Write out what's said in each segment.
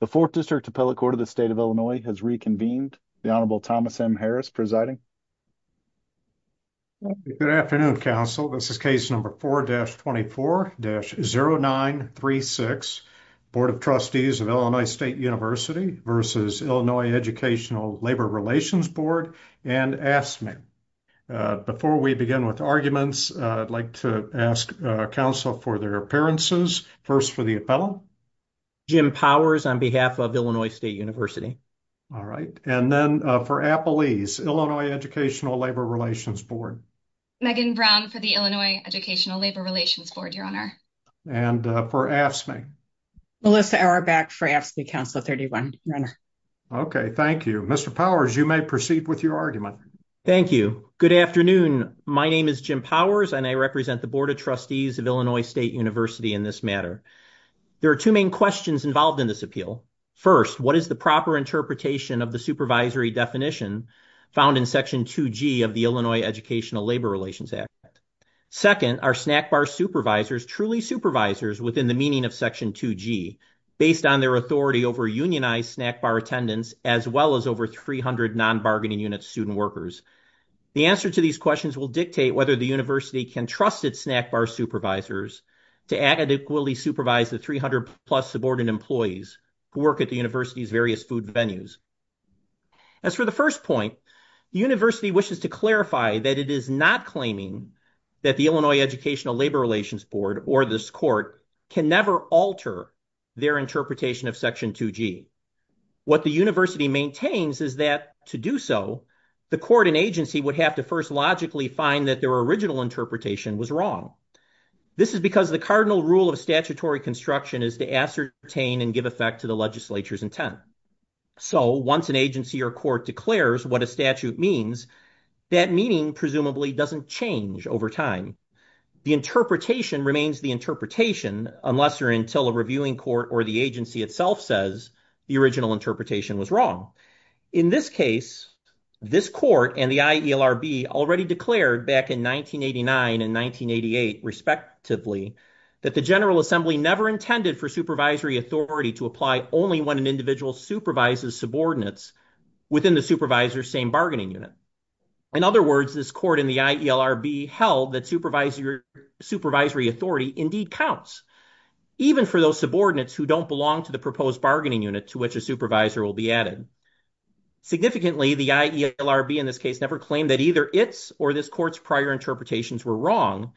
The 4th District Appellate Court of the State of Illinois has reconvened. The Honorable Thomas M. Harris presiding. Good afternoon, counsel. This is case number 4-24-0936. Board of Trustees of Illinois State University versus Illinois Educational Labor Relations Board and AFSCME. Before we begin with arguments, I'd like to ask counsel for their appearances. First for the appellant. Jim Powers on behalf of Illinois State University. All right. And then for appellees, Illinois Educational Labor Relations Board. Megan Brown for the Illinois Educational Labor Relations Board, your honor. And for AFSCME. Melissa Auerbach for AFSCME Council 31. Okay, thank you. Mr. Powers, you may proceed with your argument. Thank you. Good afternoon. My name is Jim Powers and I represent the Board of Trustees of Illinois State University in this matter. There are two main questions involved in this appeal. First, what is the proper interpretation of the supervisory definition found in Section 2G of the Illinois Educational Labor Relations Act? Second, are SNACBAR supervisors truly supervisors within the meaning of Section 2G based on their authority over unionized SNACBAR attendants as well as over 300 non-bargaining unit student workers? The answer to these questions will dictate whether the university can trust its SNACBAR supervisors to adequately supervise the 300 plus subordinate employees who work at the university's various food venues. As for the first point, the university wishes to clarify that it is not claiming that the Illinois Educational Labor Relations Board or this court can never alter their interpretation of Section 2G. What the university maintains is that to do so, the court and agency would have to first logically find that their original interpretation was wrong. This is because the cardinal rule of statutory construction is to ascertain and give effect to the legislature's intent. So once an agency or court declares what a statute means, that meaning presumably doesn't change over time. The interpretation remains the interpretation unless or until a reviewing court or the agency itself says the original interpretation was wrong. In this case, this court and the IELRB already declared back in 1989 and 1988, respectively, that the General Assembly never intended for supervisory authority to apply only when an individual supervises subordinates within the supervisor's same bargaining unit. In other words, this court and the IELRB held that supervisory authority indeed counts, even for those subordinates who don't belong to the proposed bargaining unit to which a supervisor will be added. Significantly, the IELRB in this case never claimed that either its or this court's prior interpretations were wrong.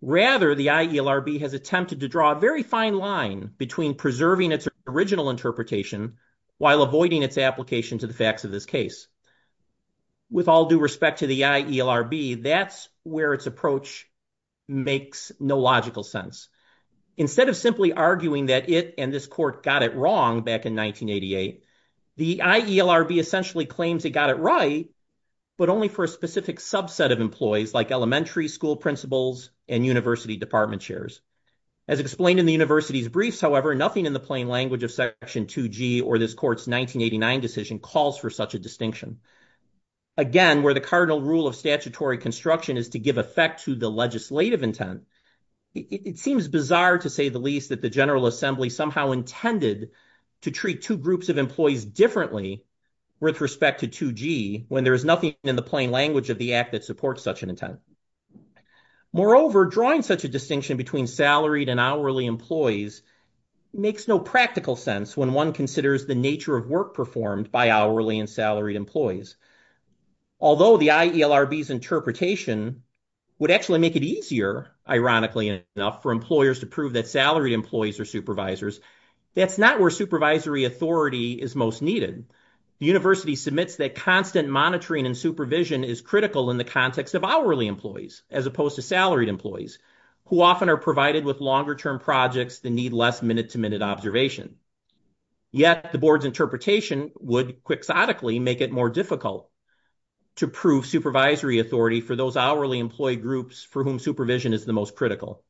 Rather, the IELRB has attempted to draw a very fine line between preserving its original interpretation while avoiding its application to the facts of this case. With all due respect to the IELRB, that's where its approach makes no logical sense. Instead of simply arguing that it and this court got it wrong back in 1988, the IELRB essentially claims it got it right, but only for a specific subset of employees like elementary school principals and university department chairs. As explained in the university's briefs, however, nothing in the plain language of Section 2G or this court's 1989 decision calls for such a distinction. Again, where the cardinal rule of statutory construction is to give effect to the legislative intent, it seems bizarre to say the least that the General Assembly somehow intended to treat two groups of employees differently with respect to 2G when there is nothing in the plain language of the act that supports such an intent. Moreover, drawing such a distinction between salaried and hourly employees makes no practical sense when one considers the nature of work performed by hourly and salaried employees. Although the IELRB's interpretation would actually make it easier, ironically enough, for employers to prove that salaried employees are supervisors, that's not where supervisory authority is most needed. The university submits that constant monitoring and supervision is critical in the context of hourly employees as opposed to salaried employees, who often are provided with longer-term projects that need less minute-to-minute observation. Yet the board's interpretation would quixotically make it more difficult. to prove supervisory authority for those hourly employed groups for whom supervision is the most critical.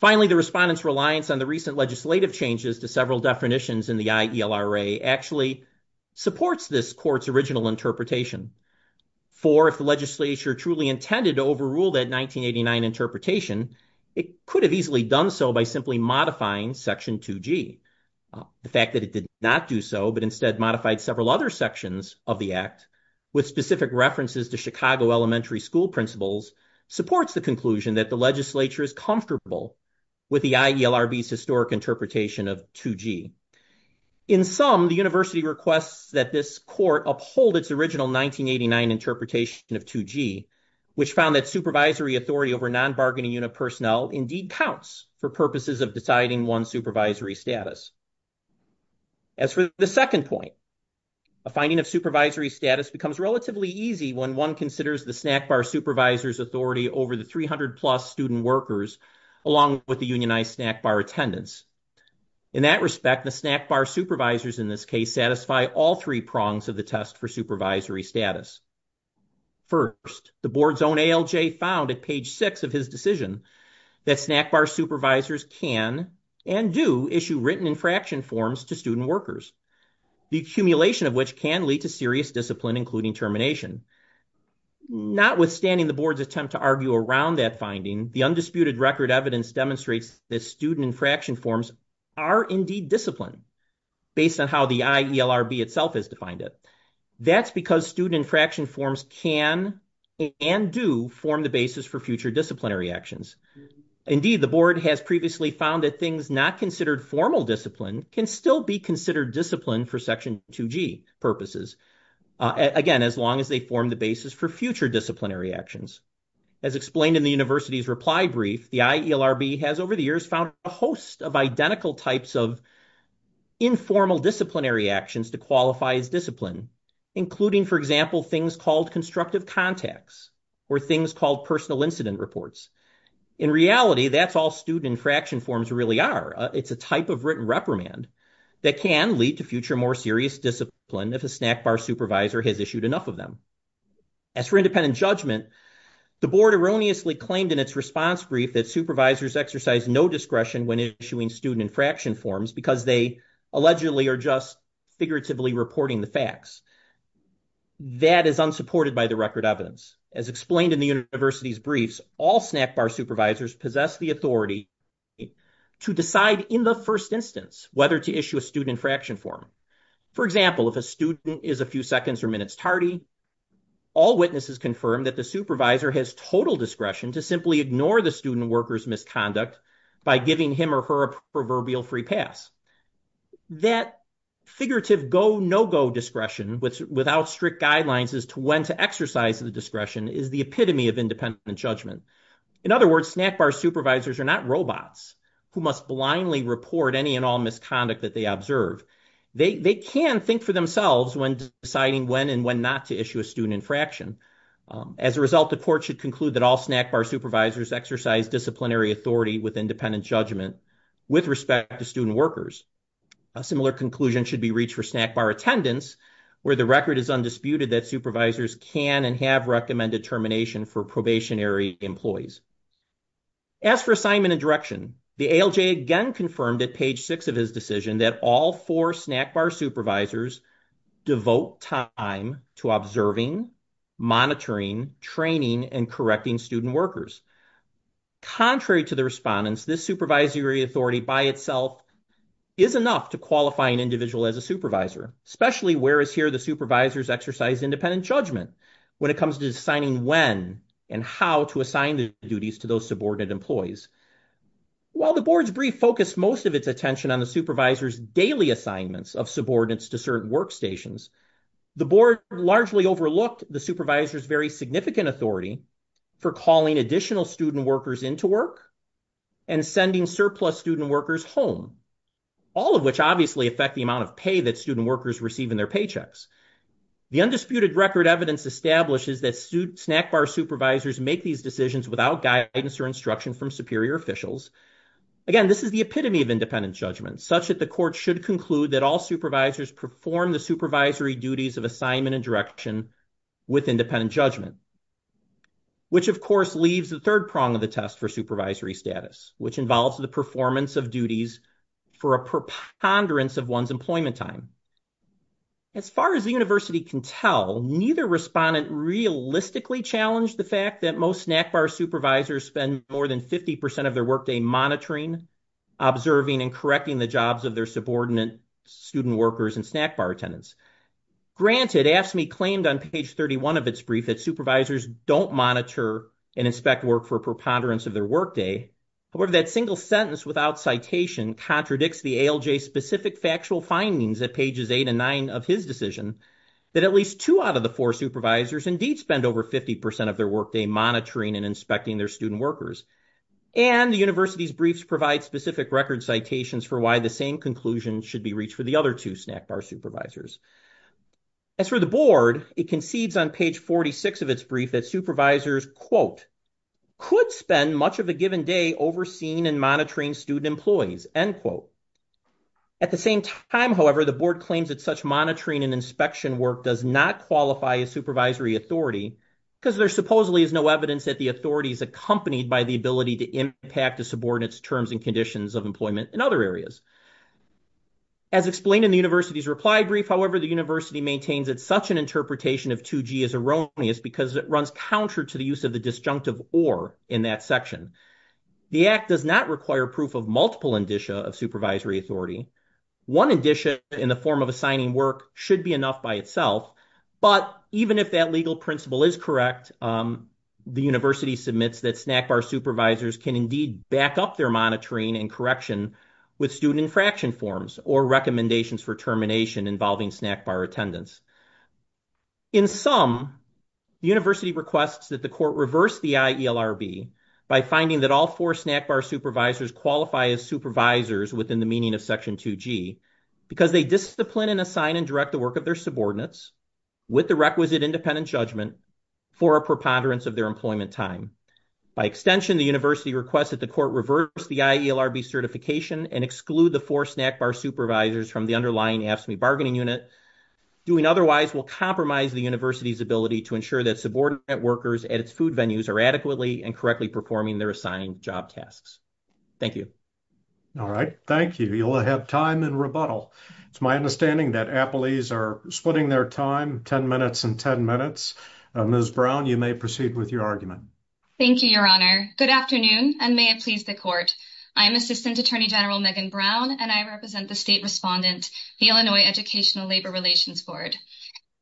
Finally, the respondents' reliance on the recent legislative changes to several definitions in the IELRA actually supports this court's original interpretation. For if the legislature truly intended to overrule that 1989 interpretation, it could have easily done so by simply modifying Section 2G. The fact that it did not do so, but instead modified several other sections of the act, with specific references to Chicago elementary school principals, supports the conclusion that the legislature is comfortable with the IELRB's historic interpretation of 2G. In sum, the university requests that this court uphold its original 1989 interpretation of 2G, which found that supervisory authority over non-bargaining unit personnel indeed counts for purposes of deciding one's supervisory status. As for the second point, a finding of supervisory status becomes relatively easy when one considers the snack bar supervisor's authority over the 300-plus student workers along with the unionized snack bar attendants. In that respect, the snack bar supervisors in this case satisfy all three prongs of the test for supervisory status. First, the board's own ALJ found at page 6 of his decision that snack bar supervisors can and do issue written infraction forms to student workers, the accumulation of which can lead to serious discipline, including termination. Notwithstanding the board's attempt to argue around that finding, the undisputed record evidence demonstrates that student infraction forms are indeed discipline, based on how the IELRB itself has defined it. That's because student infraction forms can and do form the basis for future disciplinary actions. Indeed, the board has previously found that things not considered formal discipline can still be considered discipline for Section 2G purposes, again, as long as they form the basis for future disciplinary actions. As explained in the university's reply brief, the IELRB has over the years found a host of identical types of informal disciplinary actions to qualify as discipline, including, for example, things called constructive contacts or things called personal incident reports. In reality, that's all student infraction forms really are. It's a type of written reprimand that can lead to future more serious discipline if a snack bar supervisor has issued enough of them. As for independent judgment, the board erroneously claimed in its response brief that supervisors exercise no discretion when issuing student infraction forms because they allegedly are just figuratively reporting the facts. That is unsupported by the record evidence. As explained in the university's briefs, all snack bar supervisors possess the authority to decide in the first instance whether to issue a student infraction form. For example, if a student is a few seconds or minutes tardy, all witnesses confirm that the supervisor has total discretion to simply ignore the student worker's misconduct by giving him or her a proverbial free pass. That figurative go-no-go discretion without strict guidelines as to when to exercise the discretion is the epitome of independent judgment. In other words, snack bar supervisors are not robots who must blindly report any and all misconduct that they observe. They can think for themselves when deciding when and when not to issue a student infraction. As a result, the court should conclude that all snack bar supervisors exercise disciplinary authority with independent judgment with respect to student workers. A similar conclusion should be reached for snack bar attendance where the record is undisputed that supervisors can and have recommended termination for probationary employees. As for assignment and direction, the ALJ again confirmed at page six of his decision that all four snack bar supervisors devote time to observing, monitoring, training, and correcting student workers. Contrary to the respondents, this supervisory authority by itself is enough to qualify an individual as a supervisor, especially whereas here the supervisors exercise independent judgment when it comes to deciding when and how to assign the duties to those subordinate employees. While the board's brief focused most of its attention on the supervisor's daily assignments of subordinates to certain workstations, the board largely overlooked the supervisor's very significant authority for calling additional student workers into work and sending surplus student workers home, all of which obviously affect the amount of pay that student workers receive in their paychecks. The undisputed record evidence establishes that snack bar supervisors make these decisions without guidance or instruction from superior officials. Again, this is the epitome of independent judgment, such that the court should conclude that all supervisors perform the supervisory duties of assignment and direction with independent judgment, which of course leaves the third prong of the test for supervisory status, which involves the performance of duties for a preponderance of one's employment time. As far as the university can tell, neither respondent realistically challenged the fact that most snack bar supervisors spend more than 50% of their workday monitoring, observing, and correcting the jobs of their subordinate student workers and snack bar attendants. Granted, AFSCME claimed on page 31 of its brief that supervisors don't monitor and inspect work for preponderance of their workday. However, that single sentence without citation contradicts the ALJ-specific factual findings at pages eight and nine of his decision that at least two out of the four supervisors indeed spend over 50% of their workday monitoring and inspecting their student workers. And the university's briefs provide specific record citations for why the same conclusion should be reached for the other two snack bar supervisors. As for the board, it concedes on page 46 of its brief that supervisors, quote, could spend much of a given day overseeing and monitoring student employees, end quote. At the same time, however, the board claims that such monitoring and inspection work does not qualify as supervisory authority because there supposedly is no evidence that the authority is accompanied by the ability to impact a subordinate's terms and conditions of employment in other areas. As explained in the university's reply brief, however, the university maintains that such an interpretation of 2G is erroneous because it runs counter to the use of the disjunctive or in that section. The act does not require proof of multiple indicia of supervisory authority. One indicia in the form of assigning work should be enough by itself, but even if that legal principle is correct, the university submits that snack bar supervisors can indeed back up their monitoring and correction with student infraction forms or recommendations for termination involving snack bar attendance. In sum, the university requests that the court reverse the IELRB by finding that all four snack bar supervisors qualify as supervisors within the meaning of section 2G because they discipline and assign and direct the work of their subordinates with the requisite independent judgment for a preponderance of their employment time. By extension, the university requests that the court reverse the IELRB certification and exclude the four snack bar supervisors from the underlying AFSCME bargaining unit. Doing otherwise will compromise the university's ability to ensure that subordinate workers at its food venues are adequately and correctly performing Thank you. You'll have time in rebuttal. It's my understanding that Applees are splitting their time 10 minutes and 10 minutes. Ms. Brown, you may proceed with your argument. Thank you, Your Honor. Good afternoon and may it please the court. I am Assistant Attorney General Megan Brown and I represent the state respondent of the Illinois Educational Labor Relations Board.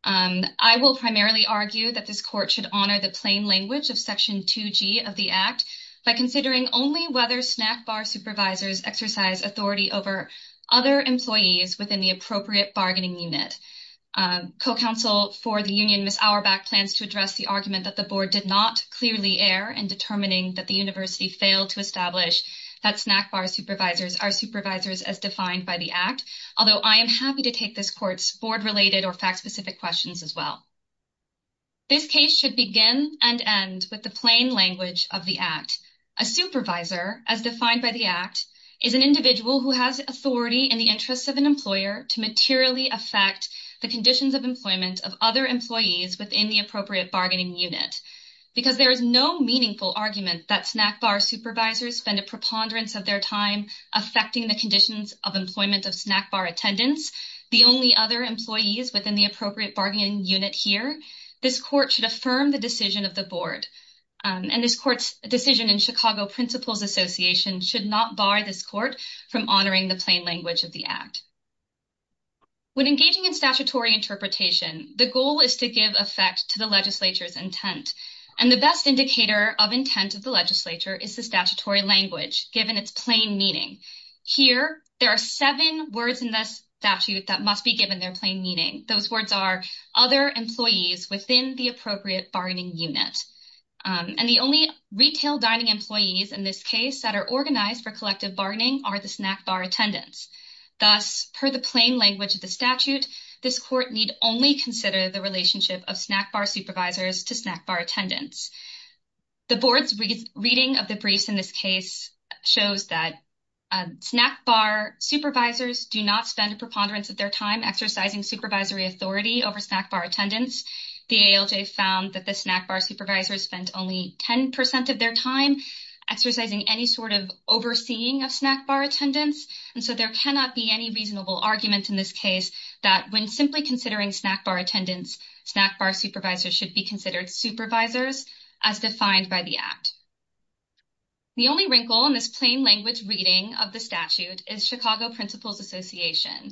I will primarily argue that this court should honor the plain language of Section 2G of the Act by considering only whether snack bar supervisors exercise authority over other employees within the appropriate bargaining unit. Co-counsel for the union, Ms. Auerbach, plans to address the argument that the board did not clearly err in determining that the university failed to establish that snack bar supervisors are supervisors as defined by the Act, although I am happy to take this court's fact-specific questions as well. This case should begin and end with the plain language of the Act. A supervisor, as defined by the Act, is an individual who has authority in the interest of an employer to materially affect the conditions of employment of other employees within the appropriate bargaining unit because there is no meaningful argument that snack bar supervisors spend a preponderance of their time in the appropriate bargaining unit here. This court should affirm the decision of the board and this court's decision in Chicago Principals Association should not bar this court from honoring the plain language of the Act. When engaging in statutory interpretation, the goal is to give effect to the legislature's intent and the best indicator of intent of the legislature is the statutory language given its plain meaning. Here, there are seven words in this statute that must be given their plain meaning. Those words are other employees within the appropriate bargaining unit and the only retail dining employees in this case that are organized for collective bargaining are the snack bar attendants. Thus, per the plain language of the statute, this court need only consider the relationship of snack bar supervisors to snack bar attendants. The board's reading of the briefs in this case shows that snack bar supervisors do not spend a preponderance of their time exercising supervisory authority over snack bar attendants. The ALJ found that the snack bar supervisors spent only 10% of their time exercising any sort of overseeing of snack bar attendants and so there cannot be any reasonable argument in this case that when simply considering snack bar attendants, snack bar supervisors should be considered supervisors as defined by the act. The only wrinkle in this plain language reading of the statute is Chicago Principals Association,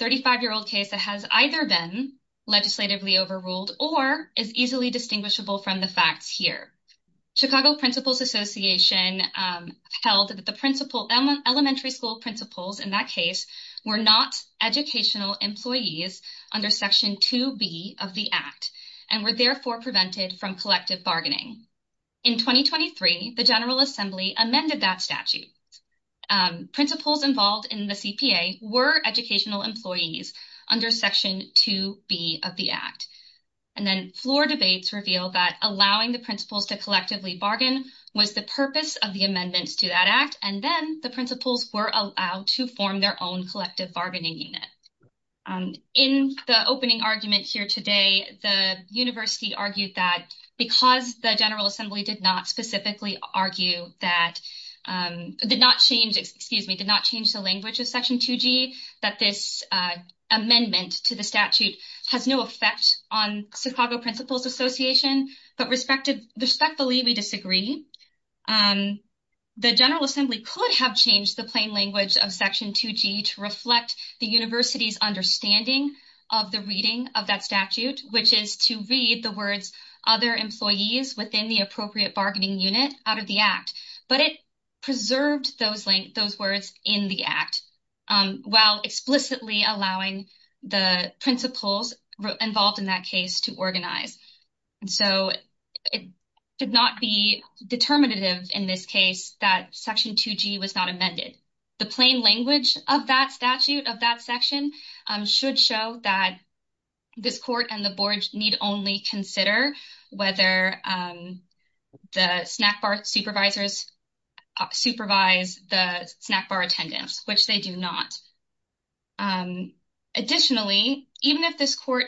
a 35-year-old case that has either been legislatively overruled or is easily distinguishable from the facts here. Chicago Principals Association held that the elementary school principals in that case were not educational employees under Section 2B of the Act and were therefore prevented from collective bargaining. In 2023, the General Assembly amended that statute. Principals involved in the CPA were educational employees under Section 2B of the Act. And then floor debates reveal that allowing the principals to collectively bargain was the purpose of the amendments to that Act and then the principals were allowed to form their own collective bargaining unit. In the opening argument here today, the University argued that because the General Assembly did not specifically argue that, did not change, excuse me, did not change the language of Section 2G that this amendment to the statute has no effect on Chicago Principals Association but respectfully we disagree. The General Assembly could have changed the plain language of Section 2G to reflect the University's understanding of the reading of that statute which is to read the words other employees within the appropriate bargaining unit out of the Act but it preserved those words in the Act while explicitly allowing the principals involved in that case to organize. So, it did not be determinative in this case that Section 2G was not amended. The plain language of that statute of that section should show that this Court and the Board need only consider whether the snack bar supervisors supervise the snack bar attendance which they do not. Additionally, even if this Court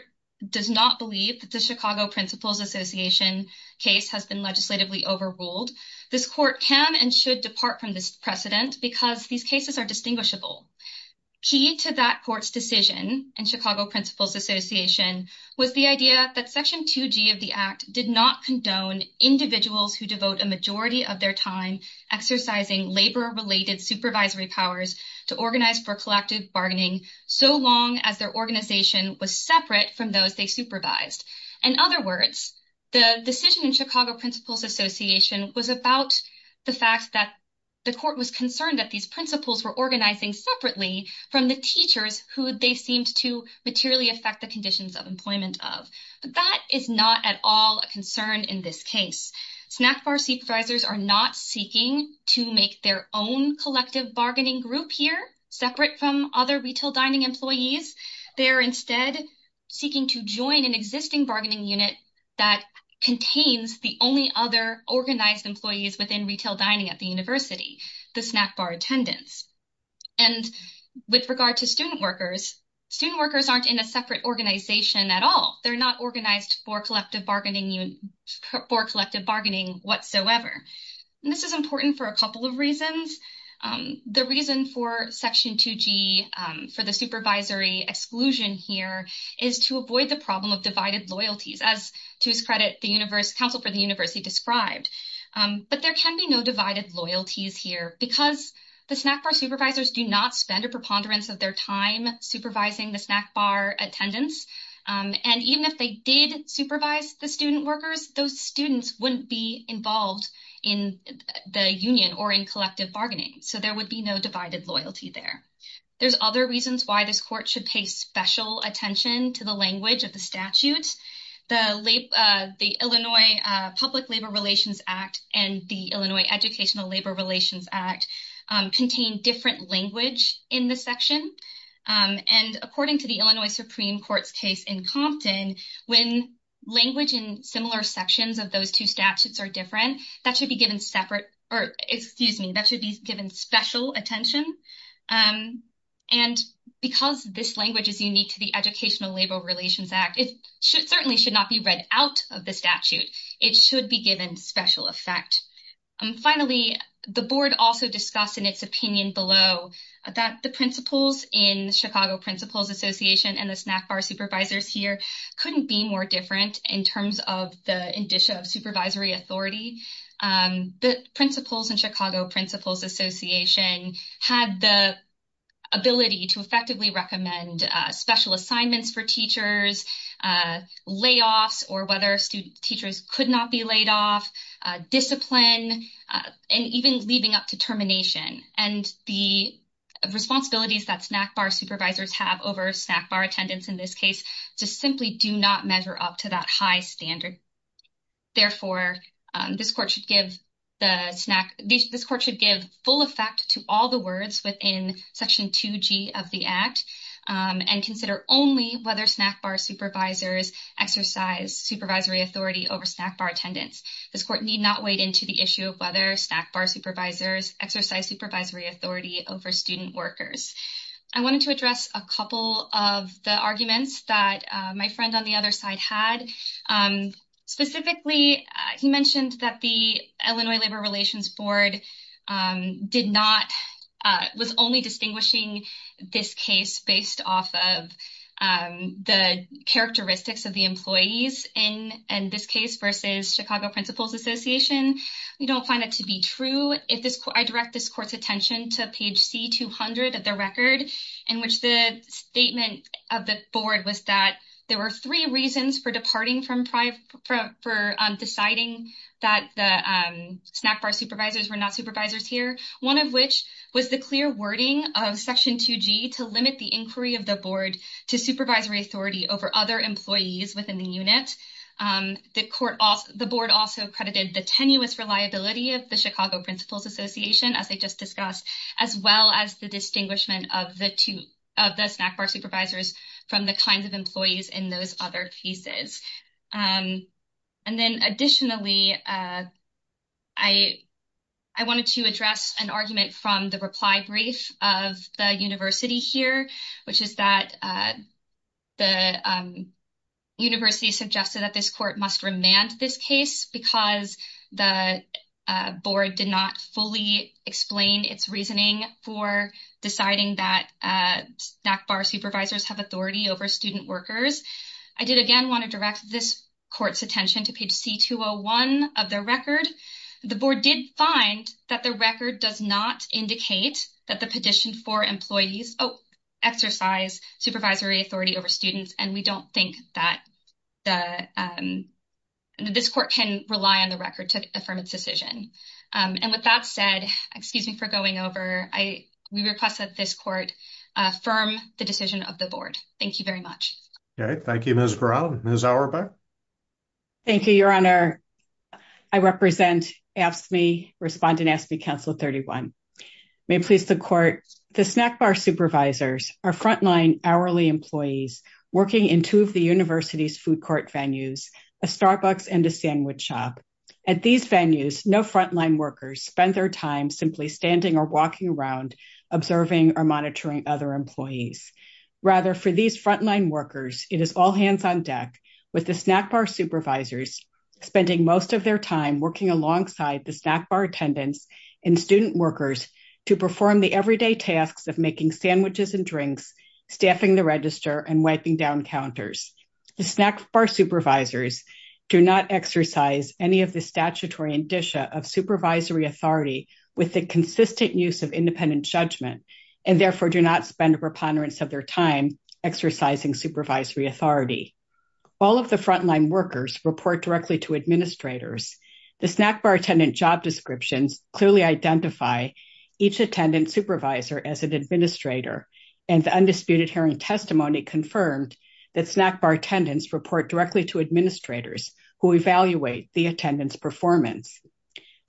does not believe that the Chicago Principals Association case has been legislatively overruled this Court can and should depart from this precedent because these cases are distinguishable. Key to that Court's decision in Chicago Principals Association was the idea that Section 2G of the Act did not condone individuals who devote a majority of their time exercising labor-related supervisory powers to organize for collective bargaining so long as their organization was separate from those they supervised. In other words, the decision in Chicago Principals Association was about the fact that the Court was concerned that these principals were organizing separately from the teachers who they seemed to materially affect the conditions of employment of. That is not at all a concern in this case. Snack bar supervisors are not seeking to make their own collective bargaining group here separate from other retail dining employees. They are instead seeking to join an existing bargaining unit that contains the only other organized employees within retail dining at the University, the snack bar attendants. And with regard to student workers, student workers aren't in a separate organization at all. They're not organized for collective bargaining whatsoever. And this is important for a couple of reasons. The reason for Section 2G for the supervisory exclusion here is to avoid the problem of divided loyalties as, to his credit, the Council for the University described. But there can be no divided loyalties here because the snack bar supervisors do not spend a preponderance of their time supervising the snack bar attendants. And even if they did supervise the student workers, those students wouldn't be involved in the union or in collective bargaining. So there would be no divided loyalty there. There's other reasons why this Court should pay special attention to the language of the statute. The Illinois Public Labor Relations Act and the Illinois Educational Labor Relations Act contain different language in the section. And according to the Illinois Supreme Court's case in Compton, when language in similar sections of those two statutes are different, that should be given separate, excuse me, that should be given special attention. And because this language is unique to the Educational Labor Relations Act, it certainly should not be read out of the statute. It should be given special effect. Finally, the Board also discussed in its opinion below that the principles in the Chicago Principals Association and the snack bar supervisors here couldn't be more different in terms of the indicia of supervisory authority. The principles in Chicago Principals Association had the ability to effectively recommend special assignments for layoffs, or whether teachers could not be laid off, discipline, and even leaving up to termination. And the responsibilities that snack bar supervisors have over snack bar attendants in this case just simply do not measure up to that high standard. Therefore, this court should give full effect to all the words within section 2G of the Act and consider only whether snack bar supervisors exercise supervisory authority over snack bar attendants. This court need not wade into the issue of whether snack bar supervisors exercise supervisory authority over student workers. I wanted to address a couple of the arguments that my friend on the other side had. Specifically, he mentioned that the Illinois Labor Relations Board did not, was only distinguishing this case based off of the characteristics of the employees in this case versus Chicago Principals Association. We don't find it to be true. I direct this court's attention to page C200 of the record in which the statement of the board was that there were three reasons for departing from, for deciding that the snack bar supervisors were not supervisors here. One of which was the clear wording of section 2G to limit the inquiry of the board to supervisory authority over other employees within the unit. The court, the board also credited the tenuous reliability of the Chicago of the snack bar supervisors from the kinds of employees in those other pieces. And then additionally, I, I wanted to address an argument from the reply brief of the university here, which is that the university suggested that this court must remand this case because the board did not fully explain its reasoning for deciding that snack bar supervisors have authority over student workers. I did again want to direct this court's attention to page C201 of the record. The board did find that the record does not indicate that the petition for employees exercise supervisory authority over students and we don't think that the this court can rely on the record to affirm its decision. And with that said, excuse me for going over, we request that this court affirm the decision of the board. Thank you very much. Thank you, Ms. Brown. Ms. Auerbach? Thank you, Your Honor. I represent AFSCME, respond to AFSCME Council 31. May it please the court, the snack bar and sandwich shop. At these venues, no frontline workers spend their time simply standing or walking around observing or other employees. Rather, for these frontline workers, it is all hands on deck with the snack bar supervisors spending most of their time working alongside the snack bar attendants and student workers to perform the everyday tasks of making sandwiches and drinks, staffing the register and wiping down counters. The snack bar supervisors do not exercise any of the statutory indicia of supervisory authority with the consistent use of judgment and therefore do not spend preponderance of their time exercising supervisory authority. All of the frontline workers report directly to The snack bar job descriptions clearly identify each attendant supervisor as an and the undisputed testimony confirmed that snack bar attendants report directly to who evaluate the attendance performance.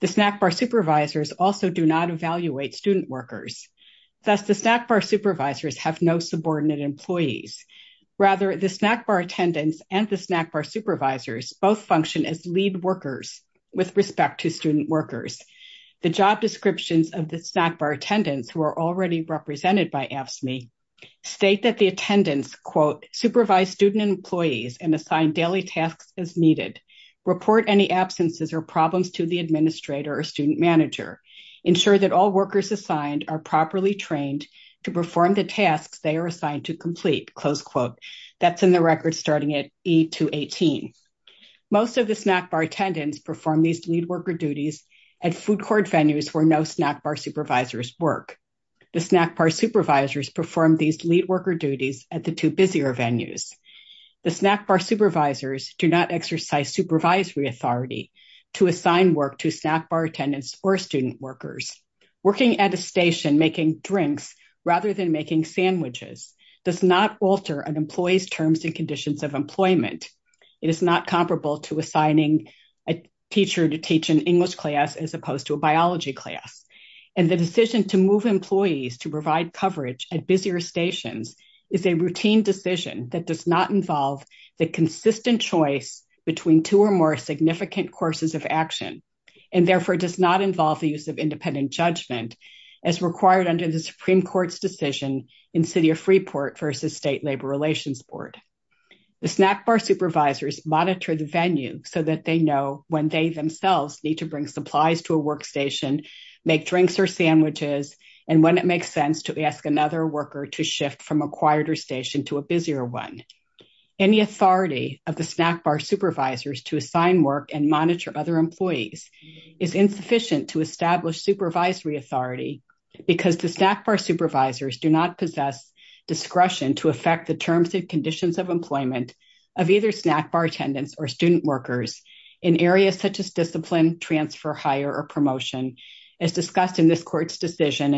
The snack bar supervisors also do not evaluate student workers. Thus the snack bar supervisors have no subordinate employees. Rather the snack bar attendants and the snack bar supervisors both function as lead workers with respect to student workers. The job descriptions of the snack bar attendants who are already represented by AFSCME state that the attendants quote supervise student employees and assign daily tasks as needed. Report any absences or problems to the administrator or student manager. Ensure that all workers assigned are properly trained to perform the tasks they are assigned to complete. That's in the record starting at E218. Most of the snack bar attendants perform these duties at the two busier venues. The snack bar supervisors do not exercise supervisory authority to assign work to snack bar attendants or student workers. Working at a station making drinks rather than making sandwiches does not alter an employee's terms and conditions of It is not comparable to assigning an English class as opposed to a biology class. It does not the consistent choice between two or more significant courses of action and therefore does not involve the use of independent judgment as required under the Supreme Court's decision. The snack bar supervisors monitor the venue so they know when they themselves need to bring supplies to a work station and when it makes sense to ask another worker to shift from insufficient to establish supervisory authority because the snack bar supervisors do not possess discretion to affect the terms and conditions of employment of either snack bar attendants or student workers in areas such as discipline, transfer, hire or promotion as discussed in this court's decision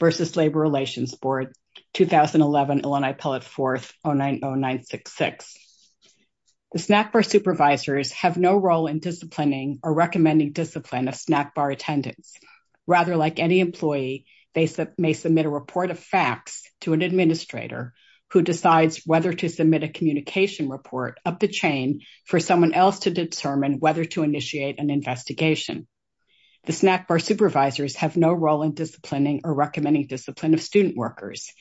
versus labor relations board 2011 Illinois 4th 090966. The snack bar supervisors have no role in disciplining or recommending discipline of snack bar attendants. Rather like any employee they may submit a an investigation. The snack bar supervisors have no role in disciplining or recommending discipline of student workers.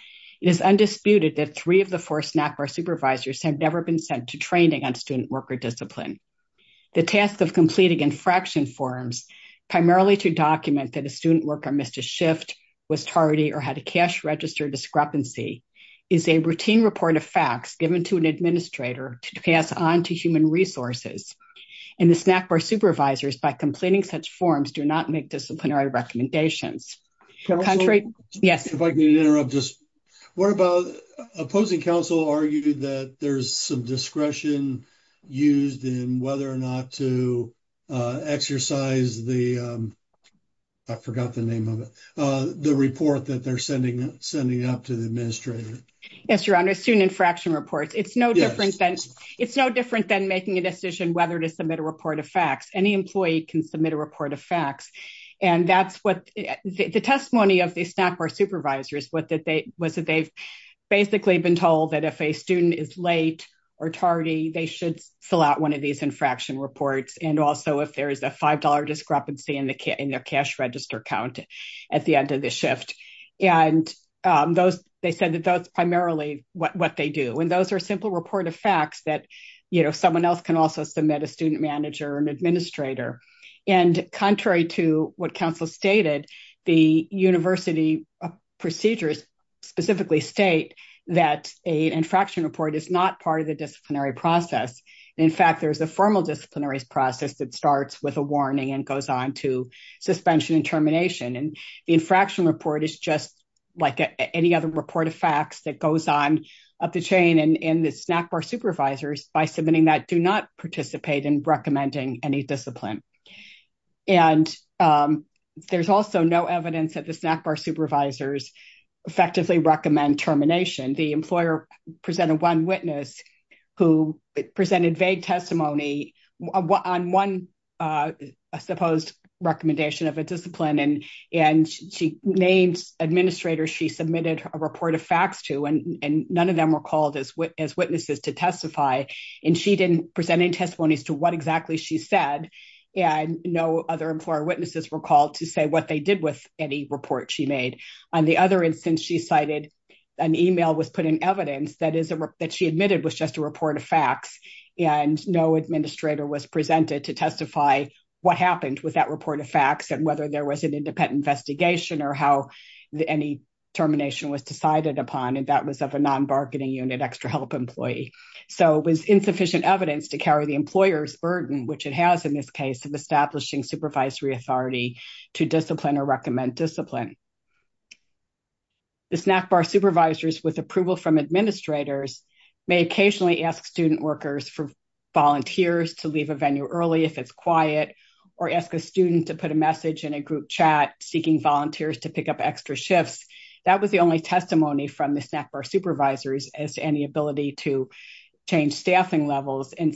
It is undisputed that three of the four snack bar supervisors have never been sent to training on student worker discipline. The task of completing infraction forms primarily to document that a student worker missed a was tardy or had a cash register discrepancy is a routine report of facts given to an administrator to pass on to human resources. And the snack bar supervisors do not make disciplinary recommendations. Yes. If I can interrupt. What about opposing counsel argue that there is some discretion used in whether or not to exercise the I forgot the name of it. The report they are sending up to the administrator. It is no different than making a decision whether to submit a report of The testimony of the snack bar supervisors was that they have been told if a student is late or tardy they should fill out one of these infraction reports. They said that is primarily what they do. Those are simple reports of facts that someone else can submit. Contrary to what counsel stated, university procedures specifically state that an infraction report is not part of the disciplinary process. There is a formal disciplinary process that starts with a warning and goes on to suspension and termination. The infraction report is just like any other report of facts that goes on in the snack bar supervisors by submitting that do not participate in recommending any discipline. There is no evidence that the snack bar supervisors recommend termination. The employer presented one witness who presented vague testimony on one proposed recommendation of a discipline. She named administrators she submitted a report of facts to and none of them were called as witnesses to testify. She did not testimony to what she said. No other witnesses were called to say what they did. On the other instance, an email was put in evidence that she admitted was just a report of facts and no administrator was presented to testify what happened with that report of facts and whether there was an independent investigation or how any termination was decided upon. It was insufficient evidence to carry the employer's opinion. The snack bar supervisors with approval from administrators may occasionally ask student workers for volunteers to leave a venue early if it's quiet or ask a student to put a message in a group chat seeking volunteers to pick up extra shifts. That was the only testimony from the snack bar supervisors as to any ability to change staffing levels. They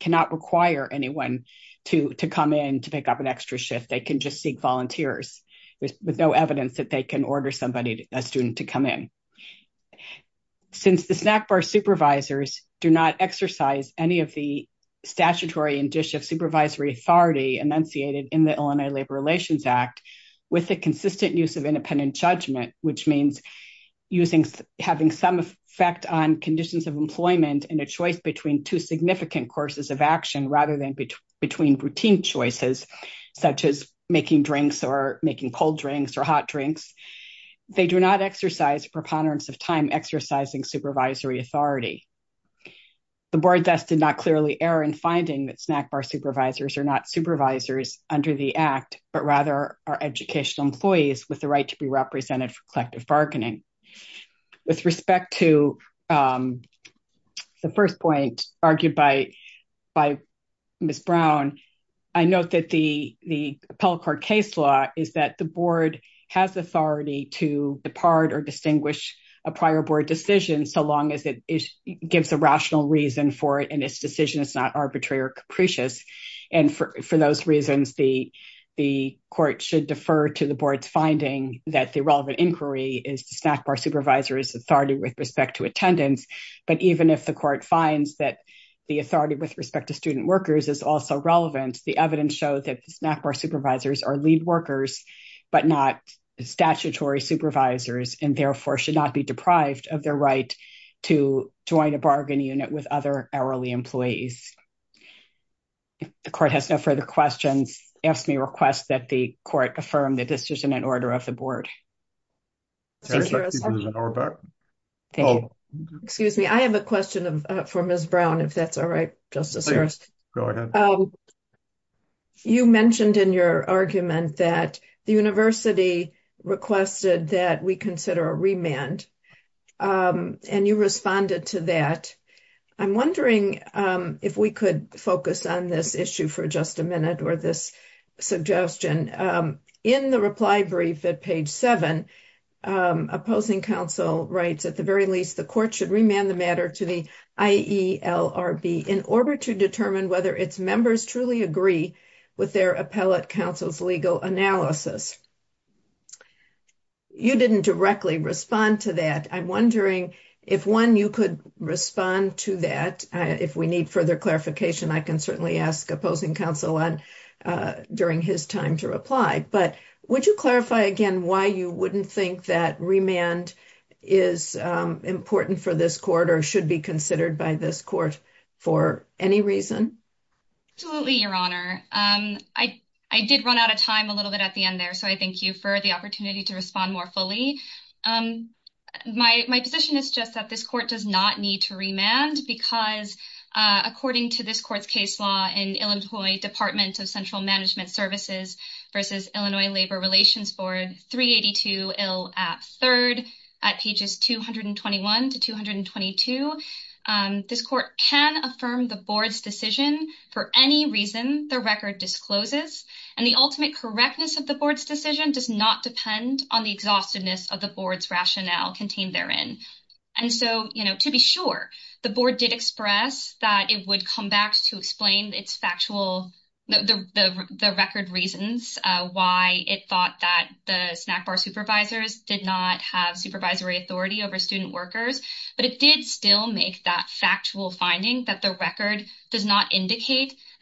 cannot require anyone to come in to pick up an extra shift. They can just seek volunteers with no evidence they can order a student to come in. Since the snack bar supervisors do not statutory dish of supervisory authority with the consistent use of independent judgment, which means having some effect on conditions of employment and a choice between two significant courses of action rather than between routine choices such as making cold drinks or hot drinks, they do not exercise time exercising supervisory authority. The board did not clearly err in finding that snack bar supervisors are not supervisors under the act but rather are educational employees with the right to be represented for collective bargaining. With respect to the first point argued by Ms. Rowe, distinguish a prior board decision so long as it gives a rational reason for it and its decision is not arbitrary or For those reasons, the court should defer to the board's finding that the relevant inquiry is the snack bar supervisors authority with respect to board's board should not be deprived of their right to join a bargaining unit with other hourly employees. If the court has no further questions, ask me to request that the court affirm the decision in order of the board. I have a question for Ms. I'm wondering if we could focus on this issue for just a minute or this suggestion. In the reply brief at page 7, opposing counsel writes at the very least the court should remand the matter to the finding that the record does not indicate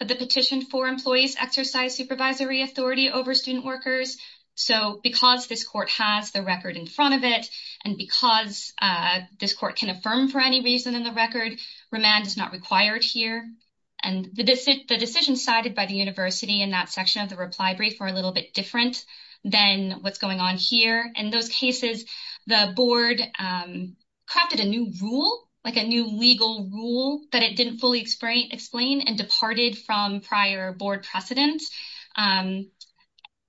that the petition for employees exercise supervisory authority over student workers. this court has the in front of it and because this court can affirm the record, is not required here. The decision cited by the university is a little bit different than what's going on here. In those cases, the board crafted a new rule that it didn't fully explain and departed from prior board precedence.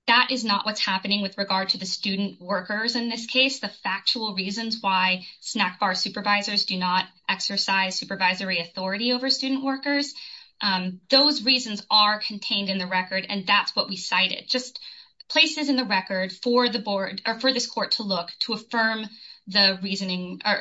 That is not what's happening with regard to the student workers in this case, the factual reasons why supervisors do not exercise supervisory authority over student workers. Those reasons are contained in the record and that's what we believe. record does not indicate that the supervisors exercise supervisory authority over student workers. This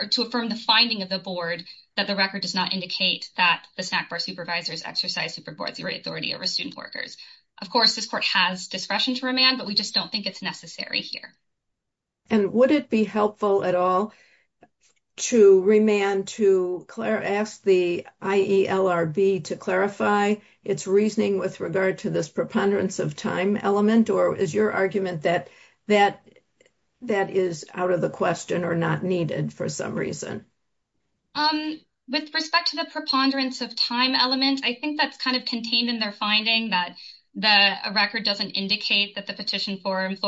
court has discretion to remand but we don't think it's necessary here. Would it be helpful at all to ask the IELRB to clarify its reasoning with regard to this preponderance of time element or is your argument that that is out of the question or not needed for some reason? With respect to the preponderance of time element, I think that's contained in the finding that the record doesn't indicate that the petition for remand we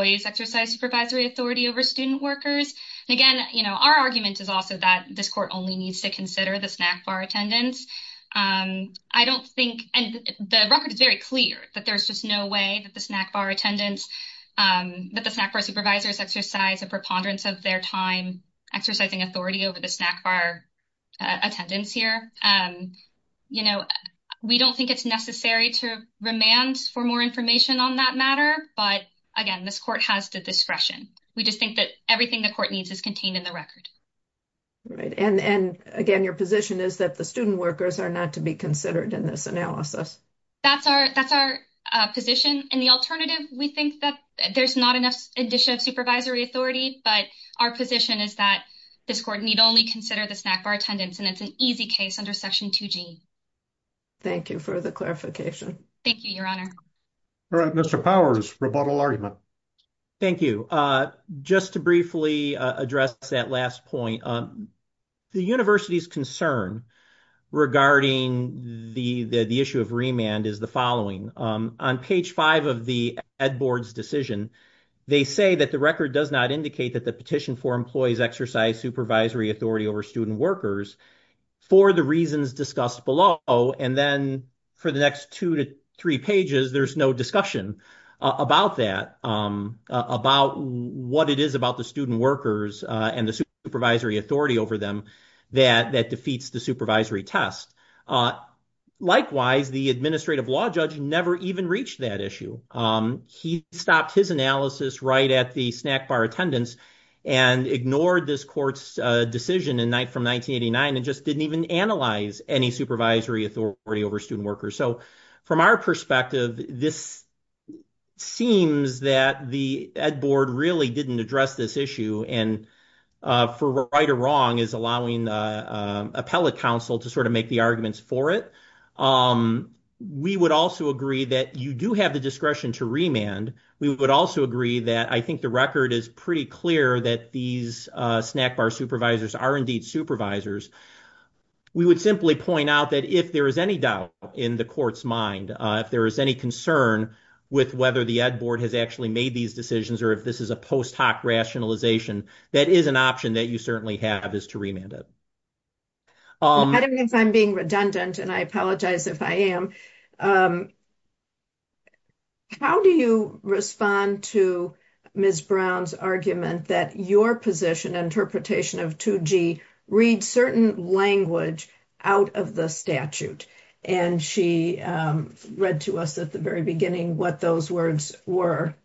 think that there's not enough supervisory authority but our position is that this court need only consider the snack bar attendance and it's an easy case under section 2G. Thank you for the clarification. Mr. Powers, rebuttal on page 5 of the ed board's decision, they say that the record does not indicate that the petition for employees exercise supervisory authority over student workers for the reasons discussed below and then for the next two to three pages there's no discussion about that, about what it is about the student workers and the supervisory authority over them that defeats the supervisory test. Likewise, the administrative law judge never even reached that He stopped his analysis right at the snack bar attendance and ignored this court's decision from 1989 and just didn't even analyze any We would the ed board really didn't address this issue and for right or wrong is allowing appellate counsel to make the arguments for it. We would also agree that you do have the discretion to remand. We would also agree that I think the record is pretty clear that these the ed board. If this is a post hoc rationalization that is an option that you certainly have is to remand it. I'm being redundant and I apologize if I am. How do you respond to Ms. Brown's argument that your position on the of 2G reads certain language out of the statute? And she read to us at the very beginning what those words were.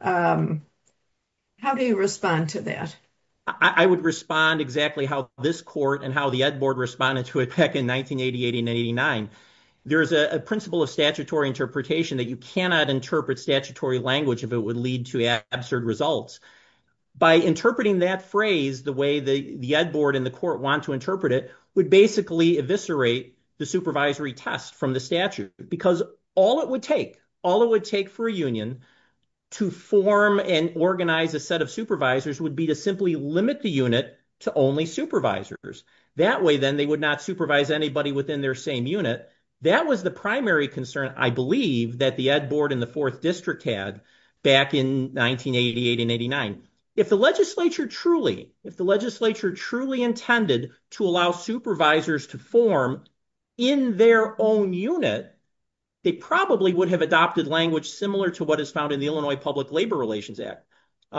How do you respond to that? I would respond exactly how this court and how the ed board responded to it back in 1988 and 1989. If the legislature truly did allow supervisors to form in their own unit, they probably would have adopted language similar to what is found in the Illinois public labor relations act. The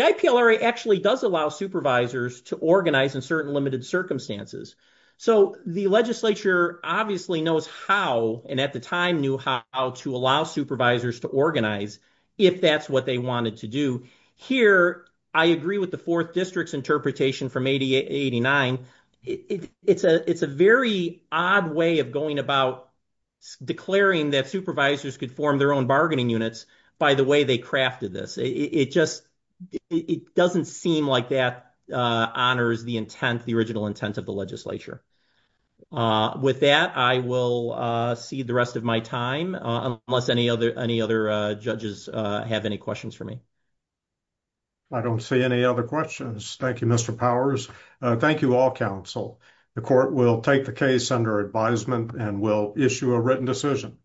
IPLRA does allow supervisors to organize in certain limited circumstances. The legislature obviously knows how and at the time knew how to allow supervisors to organize if that's what they wanted to do. Here, I agree with the fourth district's from 1989. It's a very odd way of declaring that supervisors could form their own units by the way wanted see the rest of my time unless any other judges have any questions for me. I don't see any other questions. Thank you, Mr. Powers. Thank you, all, counsel. The court will take the case under advisement and will issue a written assertion.